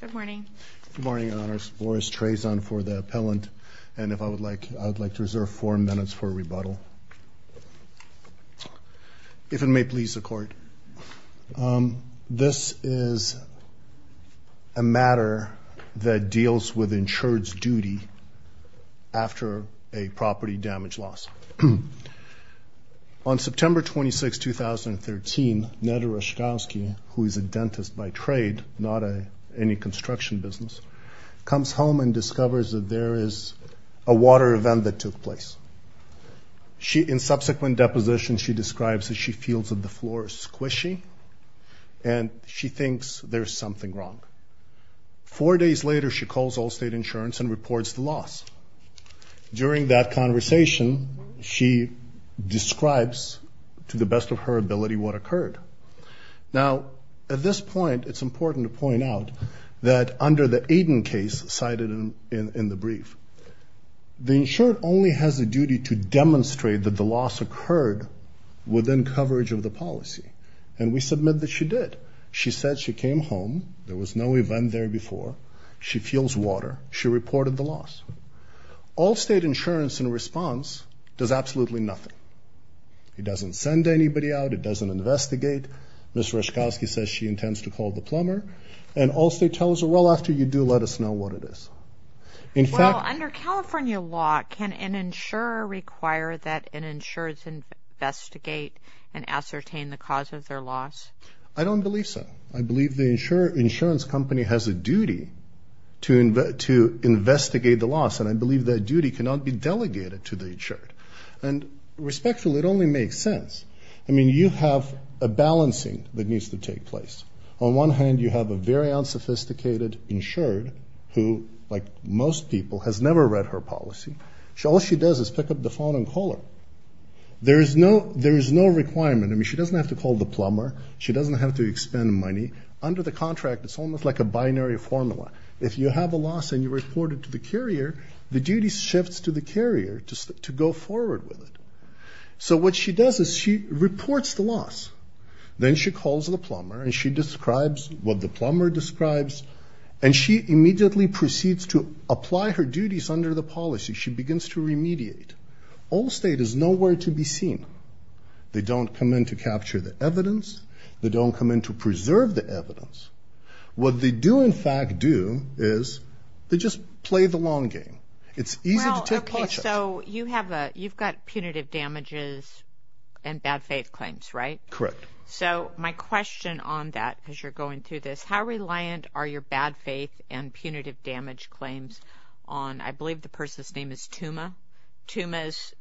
Good morning. Good morning, Your Honors. Boris Trazon for the appellant. And if I would like, I would like to reserve four minutes for rebuttal. If it may please the Court, this is a matter that deals with insured's duty after a property damage loss. On September 26, 2013, Neda Raschkovsky, who is a dentist by trade, not any construction business, comes home and discovers that there is a water event that took place. In subsequent depositions, she describes that she feels that the floor is squishy and she thinks there's something wrong. Four days later, she calls Allstate Insurance and reports the loss. During that conversation, she describes to the best of her ability what occurred. Now, at this point, it's important to point out that under the Aiden case cited in the brief, the insured only has a duty to demonstrate that the loss occurred within coverage of the policy. And we submit that she did. She said she came home, there was no event there before, she feels water, she reported the loss. Allstate Insurance, in response, does absolutely nothing. It doesn't send anybody out, it doesn't investigate. Ms. Raschkovsky says she intends to call the plumber. And Allstate tells her, well, after you do, let us know what it is. Well, under California law, can an insurer require that an insured investigate and ascertain the cause of their loss? I don't believe so. I believe the insurance company has a duty to investigate the loss, and I believe that duty cannot be delegated to the insured. And respectfully, it only makes sense. I mean, you have a balancing that needs to take place. On one hand, you have a very unsophisticated insured who, like most people, has never read her policy. All she does is pick up the phone and call her. There is no requirement. I mean, she doesn't have to call the plumber. She doesn't have to expend money. Under the contract, it's almost like a binary formula. If you have a loss and you report it to the carrier, the duty shifts to the carrier to go forward with it. So what she does is she reports the loss. Then she calls the plumber, and she describes what the plumber describes, and she immediately proceeds to apply her duties under the policy. She begins to remediate. Allstate is nowhere to be seen. They don't come in to capture the evidence. They don't come in to preserve the evidence. What they do, in fact, do is they just play the long game. It's easy to take pleasure. Well, okay, so you've got punitive damages and bad faith claims, right? Correct. So my question on that as you're going through this, how reliant are your bad faith and punitive damage claims on, I believe the person's name is Tuma. Tuma's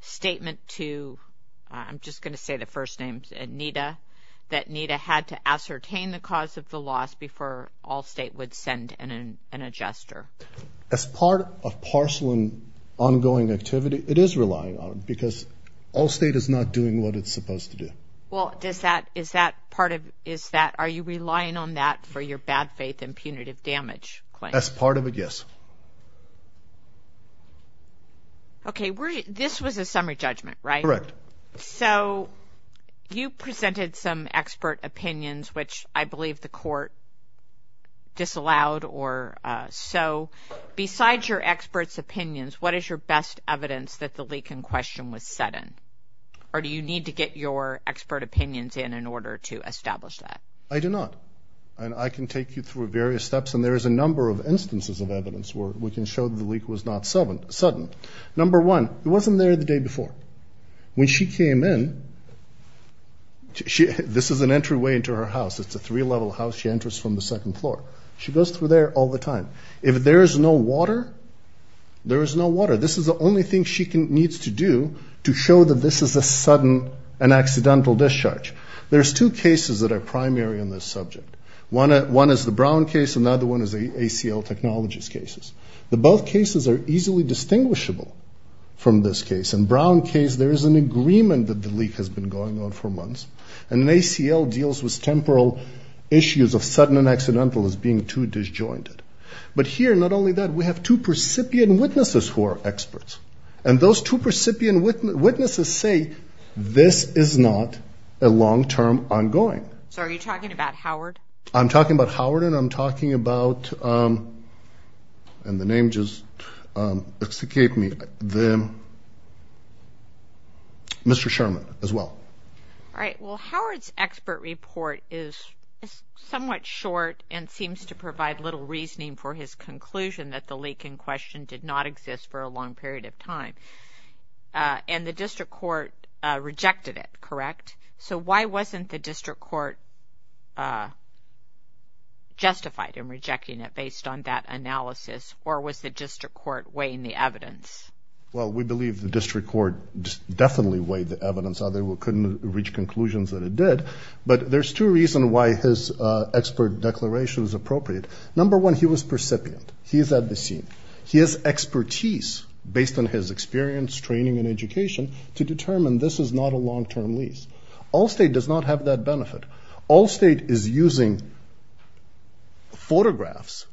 statement to, I'm just going to say the first name, Nita, that Nita had to ascertain the cause of the loss before Allstate would send in an adjuster. As part of parcel and ongoing activity, it is relying on it because Allstate is not doing what it's supposed to do. Well, are you relying on that for your bad faith and punitive damage claim? As part of it, yes. Okay, this was a summary judgment, right? Correct. So you presented some expert opinions, which I believe the court disallowed or so. Besides your experts' opinions, what is your best evidence that the leak in question was set in? Or do you need to get your expert opinions in in order to establish that? I do not, and I can take you through various steps, and there is a number of instances of evidence where we can show that the leak was not sudden. Number one, it wasn't there the day before. When she came in, this is an entryway into her house. It's a three-level house. She enters from the second floor. She goes through there all the time. If there is no water, there is no water. This is the only thing she needs to do to show that this is a sudden and accidental discharge. There's two cases that are primary in this subject. One is the Brown case. Another one is the ACL technologies cases. Both cases are easily distinguishable from this case. In Brown's case, there is an agreement that the leak has been going on for months, and ACL deals with temporal issues of sudden and accidental as being too disjointed. But here, not only that, we have two percipient witnesses who are experts, and those two percipient witnesses say this is not a long-term ongoing. So are you talking about Howard? I'm talking about Howard, and I'm talking about Mr. Sherman as well. All right. Well, Howard's expert report is somewhat short and seems to provide little reasoning for his conclusion that the leak in question did not exist for a long period of time. And the district court rejected it, correct? Correct. So why wasn't the district court justified in rejecting it based on that analysis, or was the district court weighing the evidence? Well, we believe the district court definitely weighed the evidence, although it couldn't reach conclusions that it did. But there's two reasons why his expert declaration is appropriate. Number one, he was percipient. He is at the scene. He has expertise based on his experience, training, and education to determine this is not a long-term lease. Allstate does not have that benefit. Allstate is using photographs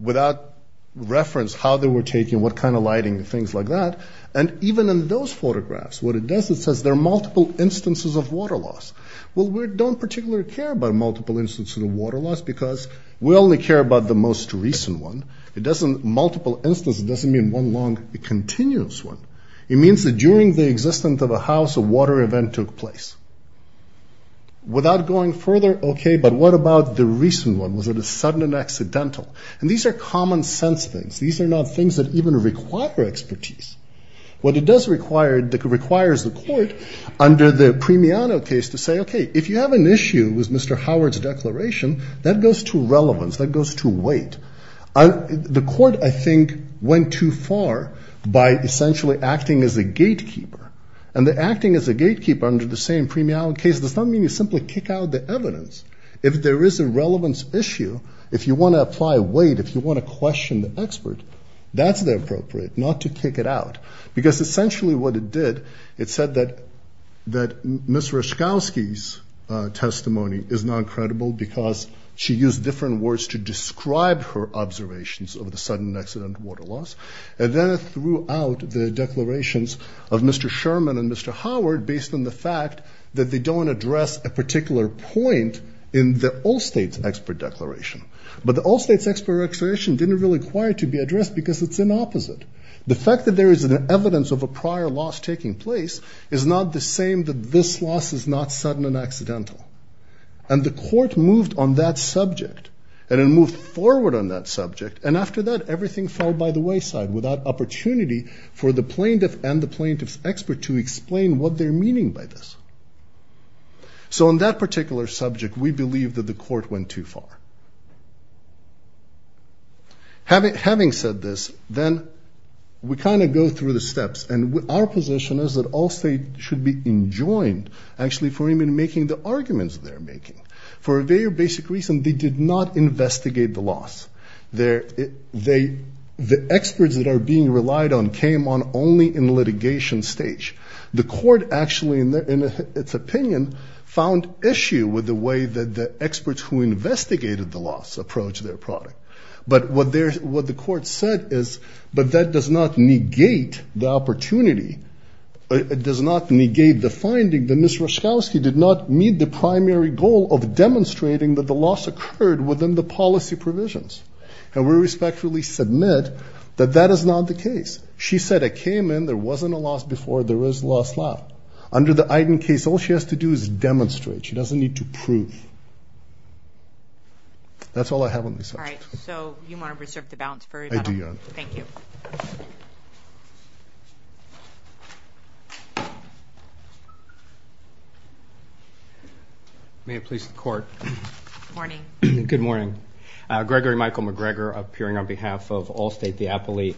without reference, how they were taken, what kind of lighting and things like that. And even in those photographs, what it does, it says there are multiple instances of water loss. Well, we don't particularly care about multiple instances of water loss because we only care about the most recent one. Multiple instances doesn't mean one long continuous one. It means that during the existence of a house, a water event took place. Without going further, okay, but what about the recent one? Was it a sudden and accidental? And these are common sense things. These are not things that even require expertise. What it does require is the court, under the Premiano case, to say, okay, if you have an issue with Mr. Howard's declaration, that goes to relevance. That goes to weight. The court, I think, went too far by essentially acting as a gatekeeper. And the acting as a gatekeeper under the same Premiano case does not mean you simply kick out the evidence. If there is a relevance issue, if you want to apply weight, if you want to question the expert, that's the appropriate, not to kick it out. Because essentially what it did, it said that Ms. Ryszkowski's testimony is not credible because she used different words to describe her observations of the sudden and accidental water loss. And then it threw out the declarations of Mr. Sherman and Mr. Howard based on the fact that they don't address a particular point in the Allstate's expert declaration. But the Allstate's expert declaration didn't really require it to be addressed because it's an opposite. The fact that there is evidence of a prior loss taking place is not the same that this loss is not sudden and accidental. And the court moved on that subject and it moved forward on that subject and after that everything fell by the wayside without opportunity for the plaintiff and the plaintiff's expert to explain what they're meaning by this. So on that particular subject, we believe that the court went too far. Having said this, then we kind of go through the steps and our position is that Allstate should be enjoined, actually, for even making the arguments they're making. For a very basic reason, they did not investigate the loss. The experts that are being relied on came on only in litigation stage. The court actually, in its opinion, found issue with the way that the experts who investigated the loss approached their product. But what the court said is, but that does not negate the opportunity. It does not negate the finding that Ms. Roszkowski did not meet the primary goal of demonstrating that the loss occurred within the policy provisions. And we respectfully submit that that is not the case. She said it came in. There wasn't a loss before. There is a loss now. Under the Eiden case, all she has to do is demonstrate. She doesn't need to prove. That's all I have on this subject. All right. So you want to reserve the balance for rebuttal? I do, Your Honor. Thank you. May it please the Court. Good morning. Good morning. Gregory Michael McGregor appearing on behalf of Allstate Diapoli.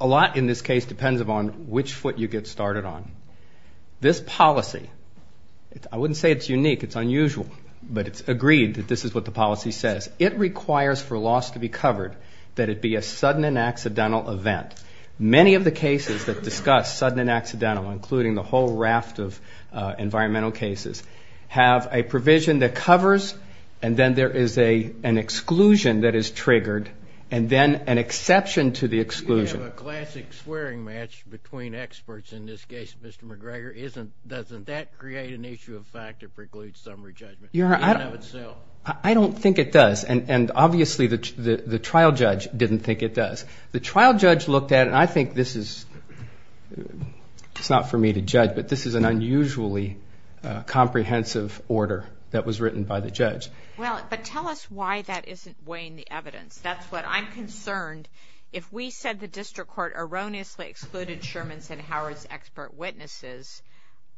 A lot in this case depends upon which foot you get started on. This policy, I wouldn't say it's unique. It's unusual. But it's agreed that this is what the policy says. It requires for loss to be covered that it be a sudden and accidental event. Many of the cases that discuss sudden and accidental, including the whole raft of environmental cases, have a provision that covers and then there is an exclusion that is triggered and then an exception to the exclusion. You have a classic swearing match between experts in this case, Mr. McGregor. Doesn't that create an issue of fact that precludes summary judgment in and of itself? I don't think it does. And obviously the trial judge didn't think it does. The trial judge looked at it and I think this is, it's not for me to judge, but this is an unusually comprehensive order that was written by the judge. Well, but tell us why that isn't weighing the evidence. That's what I'm concerned. If we said the district court erroneously excluded Sherman's and Howard's expert witnesses,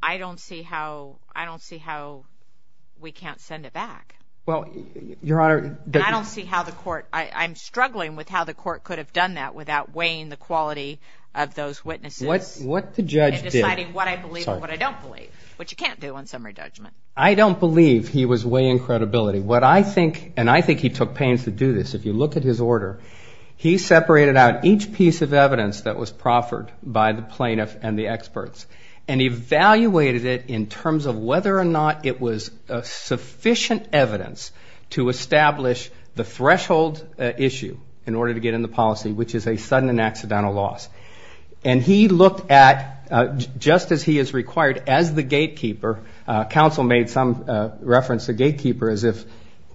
I don't see how we can't send it back. Well, Your Honor. I don't see how the court, I'm struggling with how the court could have done that without weighing the quality of those witnesses. What the judge did. And deciding what I believe and what I don't believe, which you can't do on summary judgment. I don't believe he was weighing credibility. What I think, and I think he took pains to do this. If you look at his order, he separated out each piece of evidence that was proffered by the plaintiff and the experts and evaluated it in terms of whether or not it was sufficient evidence to establish the threshold issue in order to get in the policy, which is a sudden and accidental loss. And he looked at, just as he is required as the gatekeeper, counsel made some reference to gatekeeper as if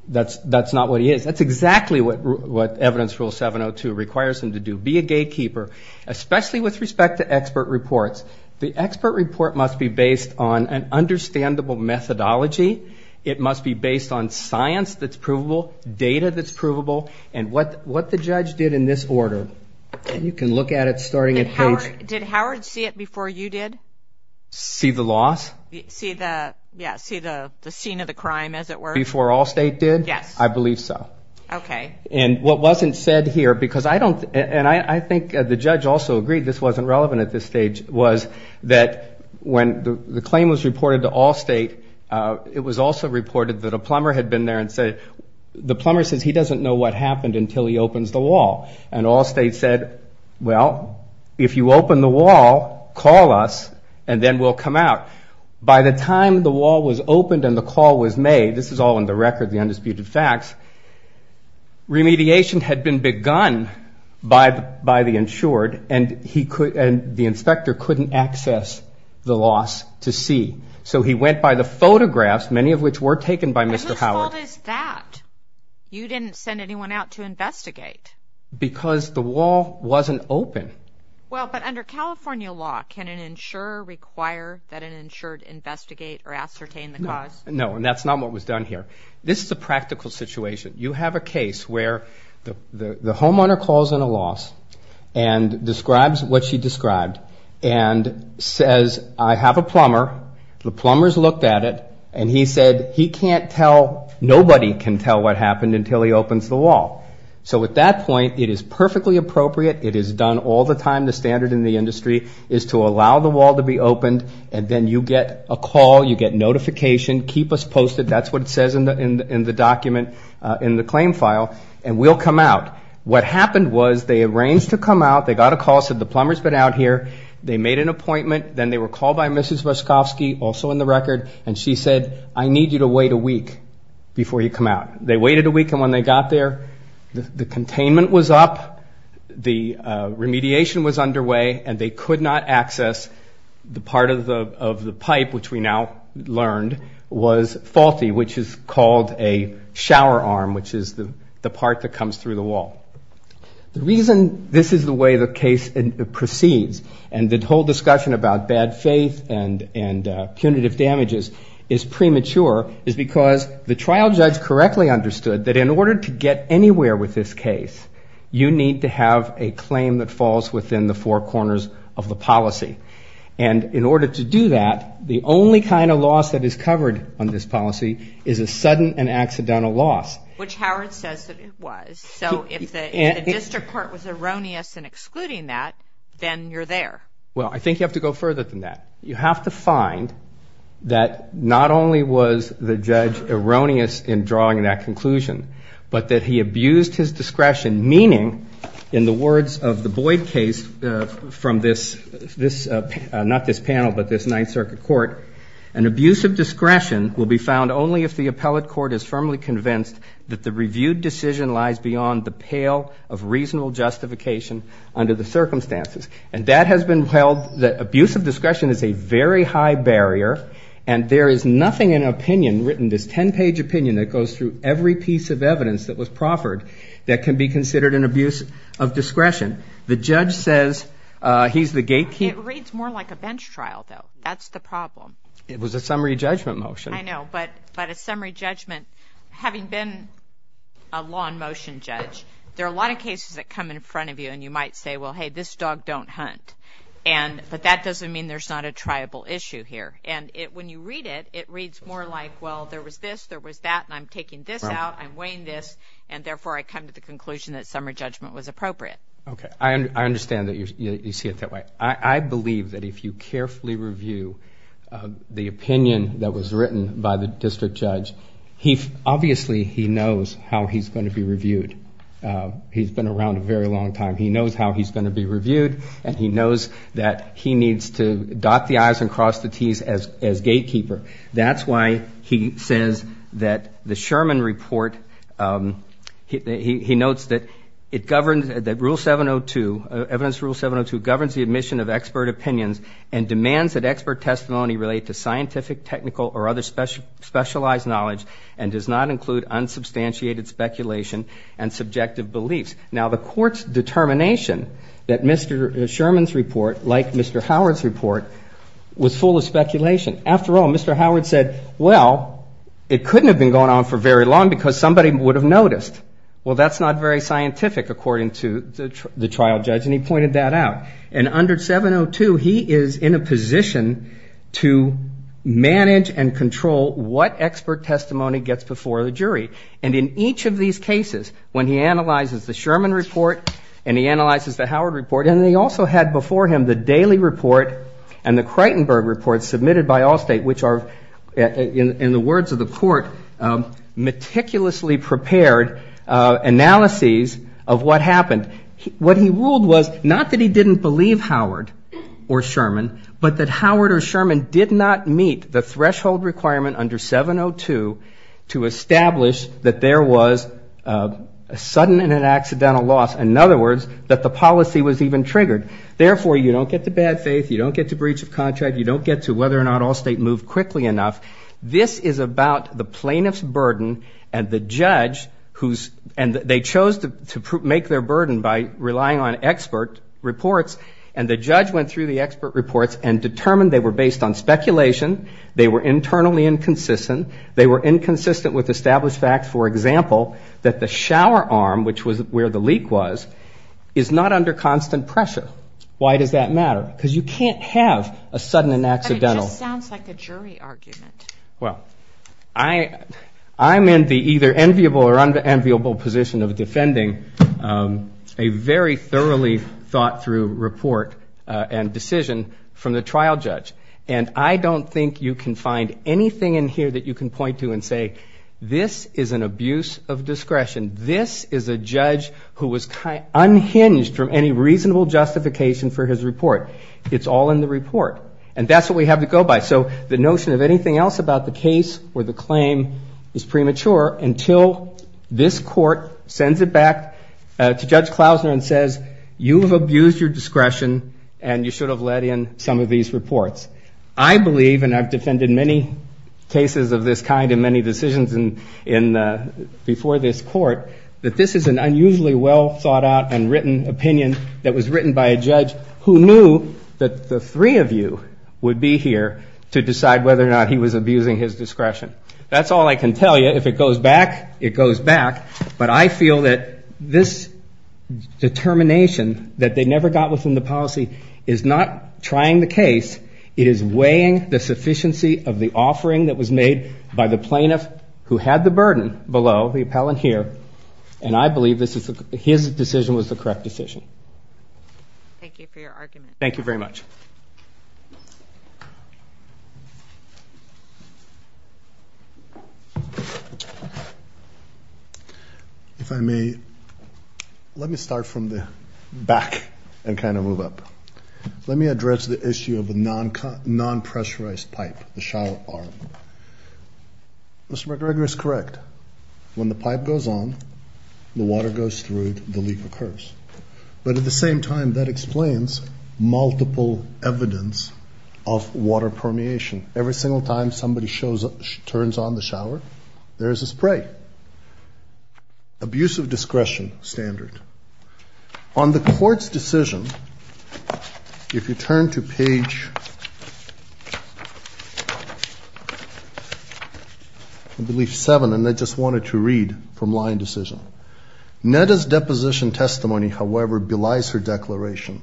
that's not what he is. That's exactly what evidence rule 702 requires him to do. Be a gatekeeper, especially with respect to expert reports. The expert report must be based on an understandable methodology. It must be based on science that's provable, data that's provable, and what the judge did in this order. You can look at it starting at page. Did Howard see it before you did? See the loss? Yeah, see the scene of the crime, as it were. Before Allstate did? Yes. I believe so. Okay. And what wasn't said here, because I don't, and I think the judge also agreed this wasn't relevant at this stage, was that when the claim was reported to Allstate, it was also reported that a plumber had been there and said, the plumber says he doesn't know what happened until he opens the wall. And Allstate said, well, if you open the wall, call us, and then we'll come out. By the time the wall was opened and the call was made, this is all in the record, the undisputed facts, remediation had been begun by the insured and the inspector couldn't access the loss to see. So he went by the photographs, many of which were taken by Mr. Howard. And whose fault is that? You didn't send anyone out to investigate. Because the wall wasn't open. Well, but under California law, can an insurer require that an insured investigate or ascertain the cause? No, and that's not what was done here. This is a practical situation. You have a case where the homeowner calls in a loss and describes what she described and says, I have a plumber, the plumber's looked at it, and he said he can't tell, nobody can tell what happened until he opens the wall. So at that point, it is perfectly appropriate, it is done all the time, the standard in the industry, is to allow the wall to be opened and then you get a call, you get notification, keep us posted, that's what it says in the document, in the claim file, and we'll come out. What happened was they arranged to come out, they got a call, said the plumber's been out here, they made an appointment, then they were called by Mrs. Weskovsky, also in the record, and she said, I need you to wait a week before you come out. They waited a week, and when they got there, the containment was up, the remediation was underway, and they could not access the part of the pipe, which we now learned was faulty, which is called a shower arm, which is the part that comes through the wall. The reason this is the way the case proceeds and the whole discussion about bad faith and punitive damages is premature is because the trial judge correctly understood that in order to get anywhere with this case, you need to have a claim that falls within the four corners of the policy. And in order to do that, the only kind of loss that is covered on this policy is a sudden and accidental loss. Which Howard says that it was. So if the district court was erroneous in excluding that, then you're there. Well, I think you have to go further than that. You have to find that not only was the judge erroneous in drawing that conclusion, but that he abused his discretion, in the words of the Boyd case from this, not this panel, but this Ninth Circuit Court, an abuse of discretion will be found only if the appellate court is firmly convinced that the reviewed decision lies beyond the pale of reasonable justification under the circumstances. And that has been held, that abuse of discretion is a very high barrier, and there is nothing in an opinion, written, this 10-page opinion that goes through every piece of evidence that was proffered that can be considered an abuse of discretion. The judge says he's the gatekeeper. It reads more like a bench trial, though. That's the problem. It was a summary judgment motion. I know, but a summary judgment, having been a law in motion judge, there are a lot of cases that come in front of you, and you might say, well, hey, this dog don't hunt. But that doesn't mean there's not a triable issue here. And when you read it, it reads more like, well, there was this, there was that, and I'm taking this out, I'm weighing this, and therefore I come to the conclusion that summary judgment was appropriate. Okay. I understand that you see it that way. I believe that if you carefully review the opinion that was written by the district judge, obviously he knows how he's going to be reviewed. He's been around a very long time. He knows how he's going to be reviewed, and he knows that he needs to dot the I's and cross the T's as gatekeeper. That's why he says that the Sherman report, he notes that it governs that rule 702, evidence rule 702, governs the admission of expert opinions and demands that expert testimony relate to scientific, technical, or other specialized knowledge and does not include unsubstantiated speculation and subjective beliefs. Now, the court's determination that Mr. Sherman's report, like Mr. Howard's report, was full of speculation. After all, Mr. Howard said, well, it couldn't have been going on for very long because somebody would have noticed. Well, that's not very scientific, according to the trial judge, and he pointed that out. And under 702, he is in a position to manage and control what expert testimony gets before the jury. And in each of these cases, when he analyzes the Sherman report and he analyzes the Howard report, and he also had before him the Daly report and the Kreitenberg report submitted by Allstate, which are, in the words of the court, meticulously prepared analyses of what happened. What he ruled was not that he didn't believe Howard or Sherman, but that Howard or Sherman did not meet the threshold requirement under 702 to establish that there was a sudden and an accidental loss, in other words, that the policy was even triggered. Therefore, you don't get to bad faith, you don't get to breach of contract, you don't get to whether or not Allstate moved quickly enough. This is about the plaintiff's burden and the judge, and they chose to make their burden by relying on expert reports, and the judge went through the expert reports and determined they were based on speculation, they were internally inconsistent, they were inconsistent with established facts, for example, that the shower arm, which was where the leak was, is not under constant pressure. Why does that matter? Because you can't have a sudden and accidental. It just sounds like a jury argument. Well, I'm in the either enviable or unenviable position of defending a very thoroughly thought through report and decision from the trial judge, and I don't think you can find anything in here that you can point to and say this is an abuse of discretion, this is a judge who was unhinged from any reasonable justification for his report. It's all in the report, and that's what we have to go by. So the notion of anything else about the case or the claim is premature until this court sends it back to Judge Klausner and says, you have abused your discretion and you should have let in some of these reports. I believe, and I've defended many cases of this kind in many decisions before this court, that this is an unusually well thought out and written opinion that was written by a judge who knew that the three of you would be here to decide whether or not he was abusing his discretion. That's all I can tell you. If it goes back, it goes back. But I feel that this determination that they never got within the policy is not trying the case. It is weighing the sufficiency of the offering that was made by the plaintiff who had the burden below, the appellant here, and I believe his decision was the correct decision. Thank you for your argument. Thank you very much. Thank you. If I may, let me start from the back and kind of move up. Let me address the issue of a non-pressurized pipe, the shallow arm. Mr. McGregor is correct. When the pipe goes on, the water goes through, the leak occurs. But at the same time, that explains multiple evidence of water permeation. Every single time somebody turns on the shower, there is a spray. Abusive discretion standard. On the court's decision, if you turn to page, I believe seven, and I just wanted to read from line decision. Netta's deposition testimony, however, belies her declaration.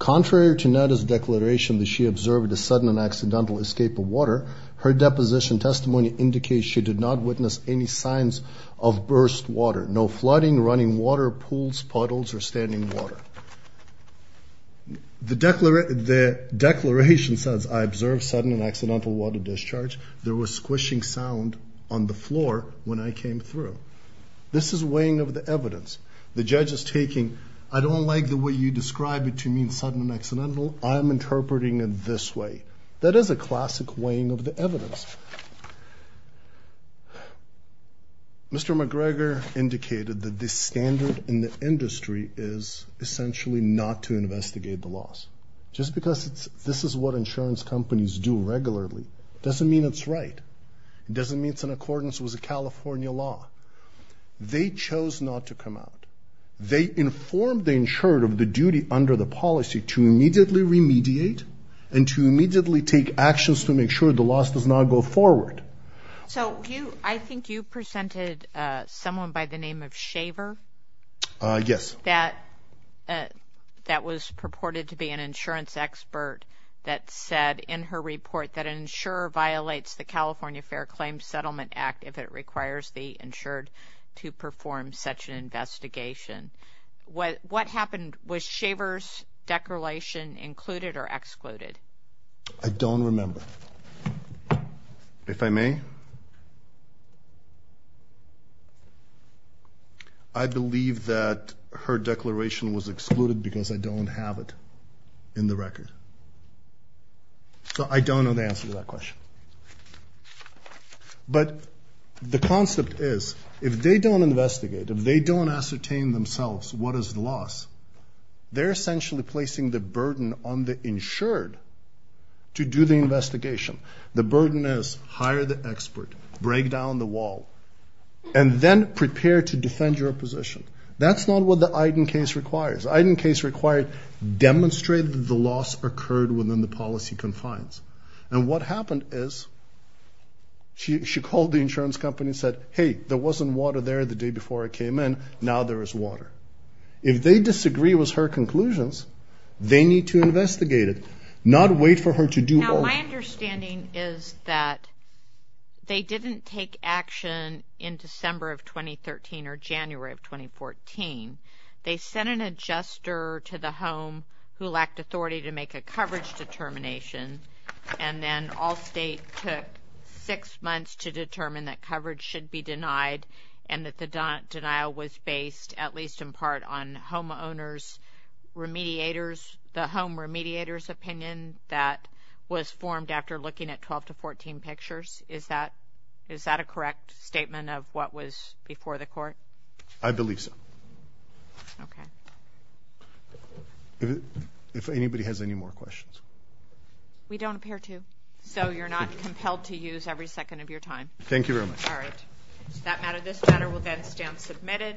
Contrary to Netta's declaration that she observed a sudden and accidental escape of water, her deposition testimony indicates she did not witness any signs of burst water. No flooding, running water, pools, puddles, or standing water. The declaration says, I observed sudden and accidental water discharge. There was squishing sound on the floor when I came through. This is weighing of the evidence. The judge is taking, I don't like the way you describe it to mean sudden and accidental. I am interpreting it this way. That is a classic weighing of the evidence. Mr. McGregor indicated that this standard in the industry is essentially not to investigate the loss. Just because this is what insurance companies do regularly doesn't mean it's right. It doesn't mean it's in accordance with the California law. They chose not to come out. They informed the insurer of the duty under the policy to immediately remediate and to immediately take actions to make sure the loss does not go forward. So I think you presented someone by the name of Shaver. Yes. That was purported to be an insurance expert that said in her report that an insurer violates the California Fair Claims Settlement Act if it requires the insured to perform such an investigation. What happened? Was Shaver's declaration included or excluded? I don't remember. If I may? I believe that her declaration was excluded because I don't have it in the record. So I don't know the answer to that question. But the concept is if they don't investigate, if they don't ascertain themselves what is the loss, they're essentially placing the burden on the insured to do the investigation. The burden is hire the expert, break down the wall, and then prepare to defend your position. That's not what the Eiden case requires. The Eiden case required demonstrate that the loss occurred within the policy confines. And what happened is she called the insurance company and said, hey, there wasn't water there the day before I came in, now there is water. If they disagree with her conclusions, they need to investigate it, not wait for her to do more. Now, my understanding is that they didn't take action in December of 2013 or January of 2014. They sent an adjuster to the home who lacked authority to make a coverage determination, and then all state took six months to determine that coverage should be denied and that the denial was based at least in part on homeowners' remediators, the home remediators' opinion that was formed after looking at 12 to 14 pictures. Is that a correct statement of what was before the court? I believe so. Okay. If anybody has any more questions. We don't appear to, so you're not compelled to use every second of your time. Thank you very much. All right. Does that matter? This matter will then stand submitted.